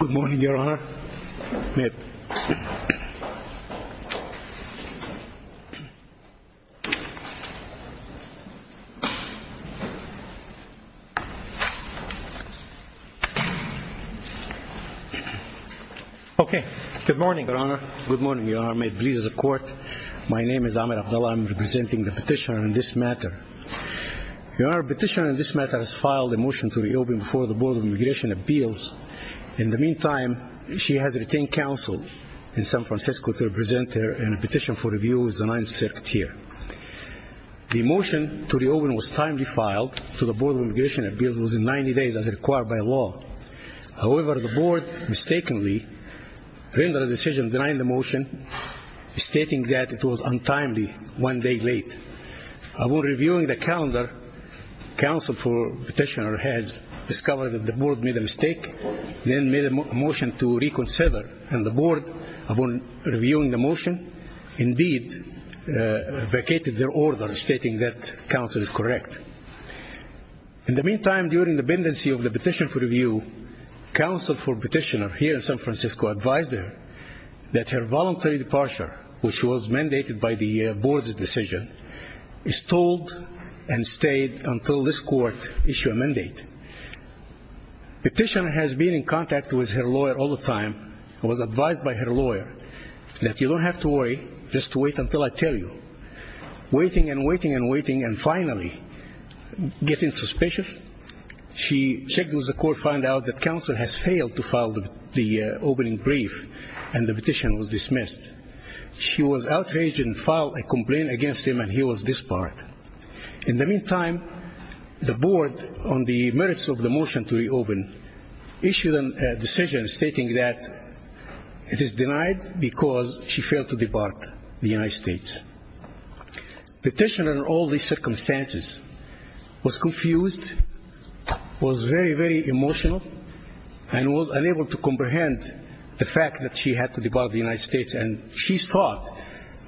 Good morning, Your Honour. Good morning, Your Honour. Good morning, Your Honour. May it please the Court, my name is Ahmed Abdullah. I'm representing the petitioner in this matter. Your Honour, the petitioner in this matter has filed a motion to reopen before the Board of Immigration Appeals. In the meantime, she has retained counsel in San Francisco to represent her in a petition for review with the Ninth Circuit here. The motion to reopen was timely filed to the Board of Immigration Appeals within 90 days, as required by law. However, the Board mistakenly rendered a decision denying the motion, stating that it was untimely one day late. While reviewing the calendar, counsel for petitioner has discovered that the Board made a mistake, then made a motion to reconsider, and the Board, upon reviewing the motion, indeed vacated their order, stating that counsel is correct. In the meantime, during the pendency of the petition for review, counsel for petitioner here in San Francisco advised her that her voluntary departure, which was mandated by the Board's decision, is stalled and stayed until this time. In the meantime, the Board, on the merits of the motion to reopen, issued a decision stating that it is denied because she failed to depart the United States. Petitioner, in all these circumstances, was confused, was very, very emotional, and was unable to comprehend the fact that she had to depart the United States, and she thought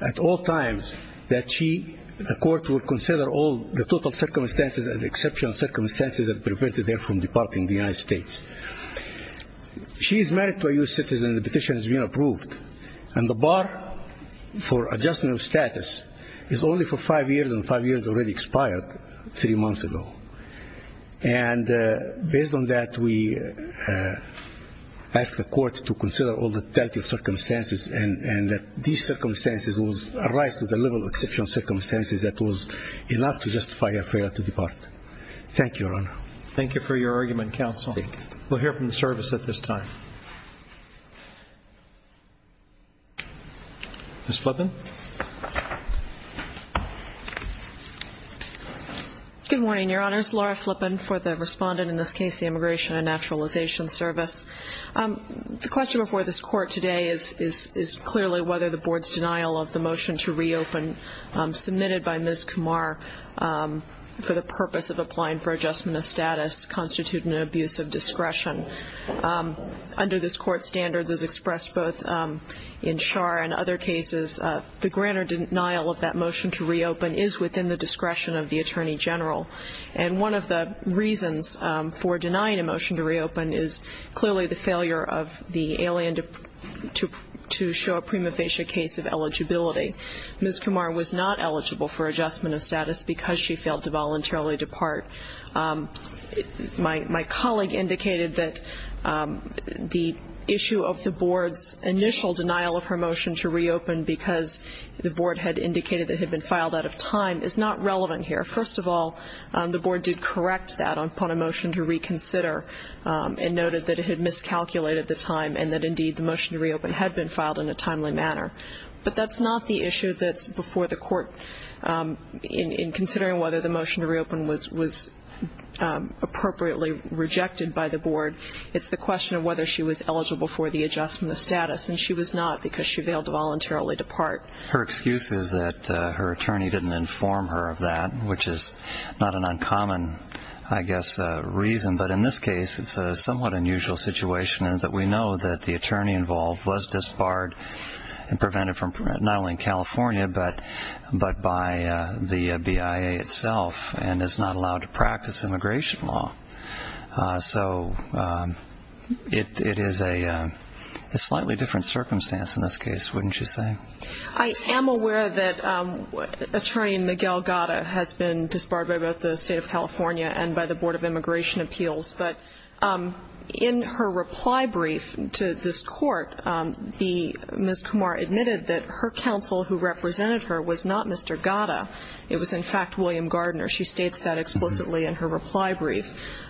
at all times that she, the court, would consider all the total circumstances and exceptional circumstances that prevented her from departing the United States. She is married to a U.S. citizen, and the petition has been approved, and the bar for adjustment of status is only for five years, and five years already expired three months ago. And based on that, we asked the court to consider all the total circumstances, and that these circumstances arise to the level of exceptional circumstances that was enough to justify her failure to depart. Thank you, Your Honor. Thank you for your argument, Counsel. We'll hear from the service at this time. Ms. Flippen. Good morning, Your Honors. Laura Flippen for the respondent in this case, the Immigration and Naturalization Service. The question before this Court today is clearly whether the Board's denial of the motion to reopen submitted by Ms. Kumar for the purpose of applying for adjustment of status constitute an abuse of discretion. Under this Court's standards, as expressed both in Schar and other cases, the grander denial of that motion to reopen is within the discretion of the Attorney General. And one of the reasons for denying a motion to reopen is clearly the failure of the alien to show a prima facie case of eligibility. Ms. Kumar was not eligible for adjustment of status because she failed to voluntarily depart. My colleague indicated that the issue of the Board's initial denial of her motion to reopen because the Board had indicated that it had been filed out of time is not relevant here. First of all, the Board did correct that upon a motion to reconsider and noted that it had miscalculated the time and that, indeed, the motion to reopen had been filed in a timely manner. But that's not the issue that's before the Court in considering whether the motion to reopen was appropriately rejected by the Board. It's the question of whether she was eligible for the adjustment of status. And she was not because she failed to voluntarily depart. Her excuse is that her attorney didn't inform her of that, which is not an uncommon, I guess, reason. But in this case, it's a somewhat unusual situation in that we know that the attorney involved was disbarred and prevented from not only California but by the BIA itself and is not allowed to practice immigration law. So it is a slightly different circumstance in this case, wouldn't you say? I am aware that Attorney Miguel Gatta has been disbarred by both the State of California and by the Board of Immigration Appeals. But in her reply brief to this Court, Ms. Kumar admitted that her counsel who represented her was not Mr. Gatta. It was, in fact, William Gardner. She states that explicitly in her reply brief.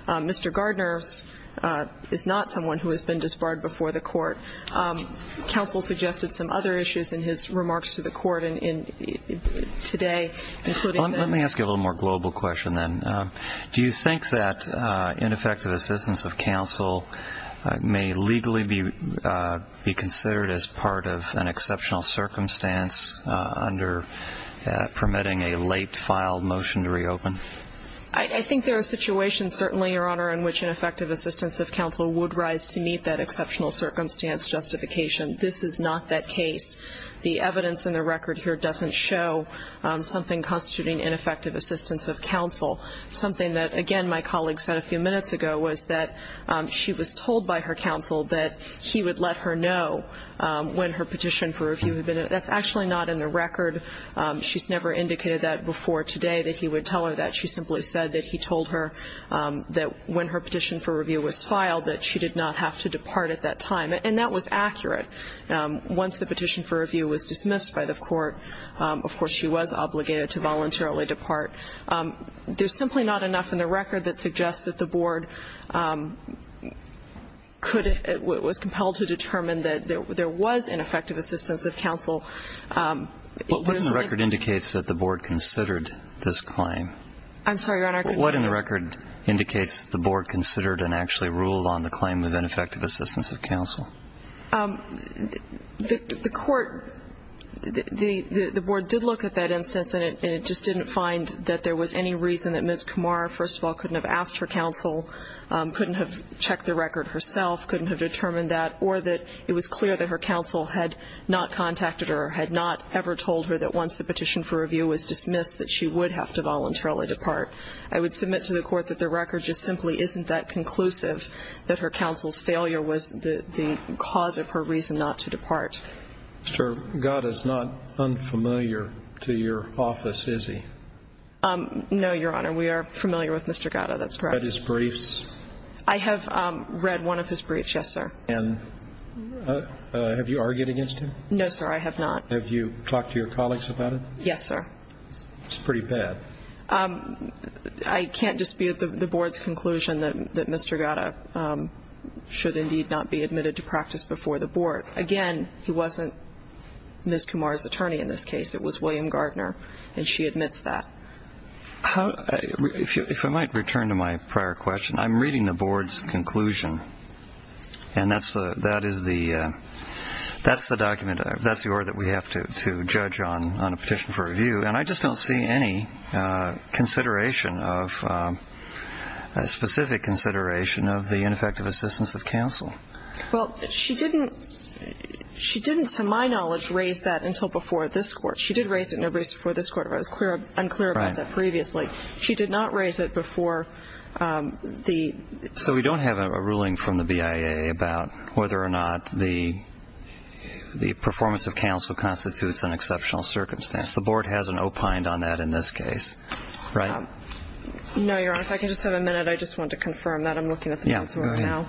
Mr. Gardner is not someone who has been disbarred before the Court. Counsel suggested some other issues in his remarks to the Court today, including the ---- Let me ask you a little more global question then. Do you think that ineffective assistance of counsel may legally be considered as part of an exceptional circumstance under permitting a late filed motion to reopen? I think there are situations, certainly, Your Honor, in which ineffective assistance of counsel would rise to meet that exceptional circumstance justification. This is not that case. The evidence in the record here doesn't show something constituting ineffective assistance of counsel. Something that, again, my colleague said a few minutes ago was that she was told by her counsel that he would let her know when her petition for review had been ---- that's actually not in the record. She's never indicated that before today that he would tell her that. She simply said that he told her that when her petition for review was filed, that she did not have to depart at that time. And that was accurate. Once the petition for review was dismissed by the Court, of course, she was obligated to voluntarily depart. There's simply not enough in the record that suggests that the Board could ---- was compelled to determine that there was ineffective assistance of counsel. What in the record indicates that the Board considered this claim? I'm sorry, Your Honor. What in the record indicates that the Board considered and actually ruled on the claim of ineffective assistance of counsel? The Court ---- the Board did look at that instance, and it just didn't find that there was any reason that Ms. Kamara, first of all, couldn't have asked her counsel, couldn't have checked the record herself, couldn't have determined that, or that it was clear that her counsel had not contacted her or had not ever told her that once the petition for review was dismissed that she would have to voluntarily depart. I would submit to the Court that the record just simply isn't that conclusive that her counsel had not contacted her or had not asked her counsel. And I would also submit to the Court that Ms. Kamara is not the cause of her reason not to depart. Mr. Gatta's not unfamiliar to your office, is he? No, Your Honor. We are familiar with Mr. Gatta. That's correct. Have you read his briefs? I have read one of his briefs, yes, sir. And have you argued against him? No, sir, I have not. Have you talked to your colleagues about it? Yes, sir. It's pretty bad. I can't dispute the Board's conclusion that Mr. Gatta should indeed not be admitted to practice before the Board. Again, he wasn't Ms. Kamara's attorney in this case. It was William Gardner, and she admits that. If I might return to my prior question, I'm reading the Board's conclusion, and that's the document, that's the order that we have to judge on a petition for review, and I just don't see any consideration of, specific consideration of the ineffective assistance of counsel. Well, she didn't, to my knowledge, raise that until before this Court. She did raise it in a brief before this Court, but I was unclear about that previously. She did not raise it before the... So we don't have a ruling from the BIA about whether or not the performance of counsel constitutes an exceptional circumstance. The Board hasn't opined on that in this case, right? No, Your Honor. If I can just have a minute, I just want to confirm that. I'm looking at the notes right now. Yeah, go ahead.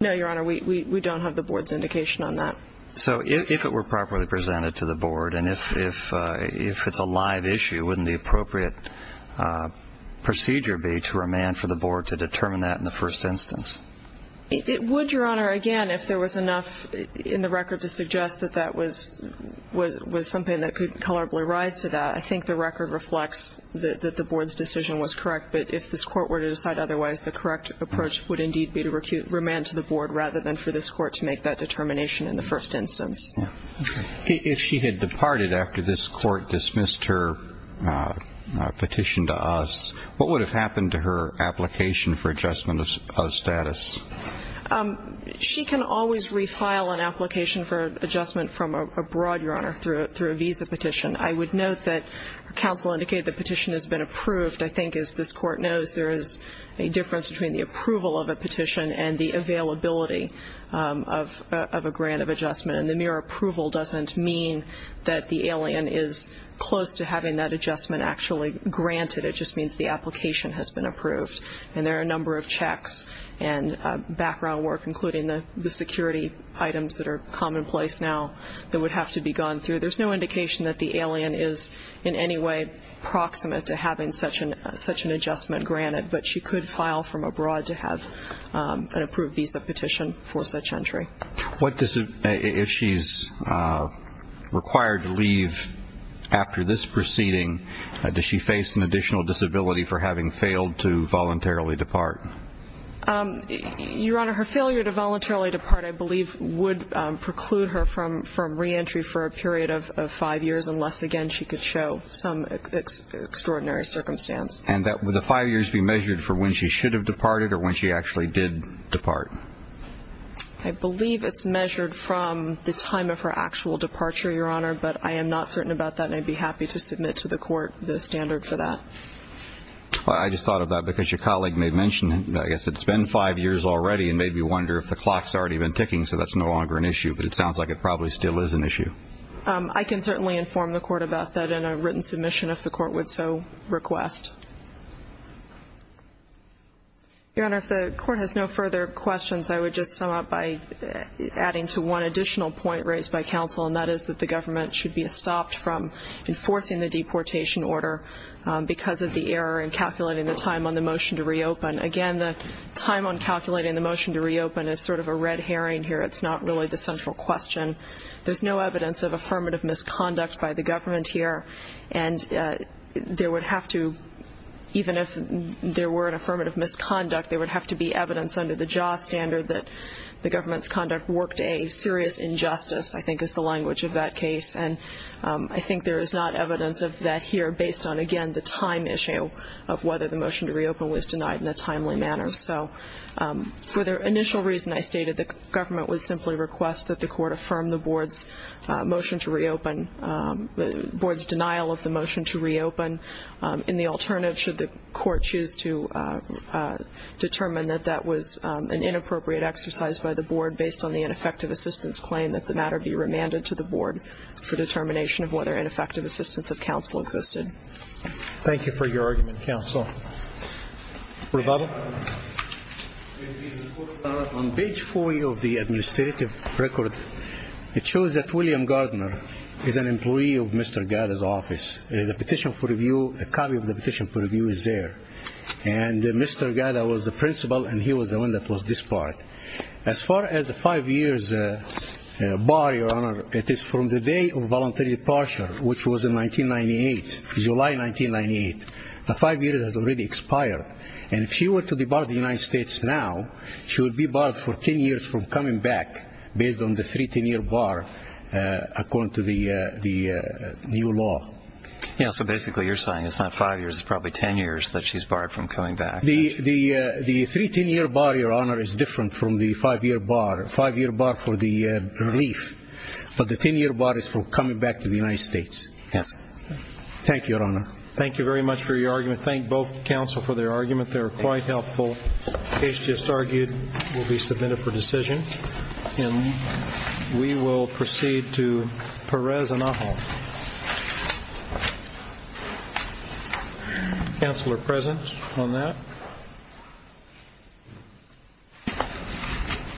No, Your Honor. We don't have the Board's indication on that. So if it were properly presented to the Board, and if it's a live issue, wouldn't the appropriate procedure be to remand for the Board to determine that in the first instance? It would, Your Honor. Again, if there was enough in the record to suggest that that was something that could colorably rise to that. I think the record reflects that the Board's decision was correct. But if this Court were to decide otherwise, the correct approach would indeed be to remand to the Board rather than for this Court to make that determination in the first instance. Okay. If she had departed after this Court dismissed her petition to us, what would have happened to her application for adjustment of status? She can always refile an application for adjustment from abroad, Your Honor, through a visa petition. I would note that counsel indicated the petition has been approved. I think, as this Court knows, there is a difference between the approval of a petition and the availability of a grant of adjustment. And the mere approval doesn't mean that the alien is close to having that adjustment actually granted. It just means the application has been approved. And there are a number of checks and background work, including the security items that are commonplace now that would have to be gone through. There's no indication that the alien is in any way proximate to having such an adjustment granted. But she could file from abroad to have an approved visa petition for such entry. If she's required to leave after this proceeding, does she face an additional disability for having failed to voluntarily depart? Your Honor, her failure to voluntarily depart, I believe, would preclude her from reentry for a period of five years unless, again, she could show some extraordinary circumstance. And would the five years be measured for when she should have departed or when she actually did depart? I believe it's measured from the time of her actual departure, Your Honor. But I am not certain about that. And I'd be happy to submit to the court the standard for that. I just thought of that because your colleague may have mentioned it. I guess it's been five years already and made me wonder if the clock has already been ticking, so that's no longer an issue. But it sounds like it probably still is an issue. I can certainly inform the court about that in a written submission if the court would so request. Your Honor, if the court has no further questions, I would just sum up by adding to one additional point raised by counsel, and that is that the government should be stopped from enforcing the deportation order because of the error in calculating the time on the motion to reopen. Again, the time on calculating the motion to reopen is sort of a red herring here. It's not really the central question. There's no evidence of affirmative misconduct by the government here. And there would have to, even if there were an affirmative misconduct, there would have to be evidence under the JASA standard that the government's conduct worked a serious injustice, I think is the language of that case. And I think there is not evidence of that here based on, again, the time issue of whether the motion to reopen was denied in a timely manner. So for the initial reason I stated, the government would simply request that the court affirm the board's motion to reopen, the board's denial of the motion to reopen. In the alternative, should the court choose to determine that that was an inappropriate exercise by the board based on the ineffective assistance claim that the matter be remanded to the board for determination of whether an effective assistance of counsel existed. Thank you for your argument, counsel. Rebaba? On page 4 of the administrative record, it shows that William Gardner is an employee of Mr. Gaida's office. The petition for review, the copy of the petition for review is there. And Mr. Gaida was the principal and he was the one that was disbarred. As far as the five years bar, Your Honor, it is from the day of voluntary departure, which was in 1998, July 1998. The five years has already expired. And if she were to debar the United States now, she would be barred for 10 years from coming back based on the 310-year bar, according to the new law. Yeah, so basically you're saying it's not five years, it's probably 10 years that she's barred from coming back. The 310-year bar, Your Honor, is different from the five-year bar. Five-year bar for the relief. But the 10-year bar is for coming back to the United States. Yes. Thank you, Your Honor. Thank you very much for your argument. Thank both counsel for their argument. They were quite helpful. The case just argued will be submitted for decision. And we will proceed to Perez and Aja. Thank you, Your Honor. Counsel are present on that.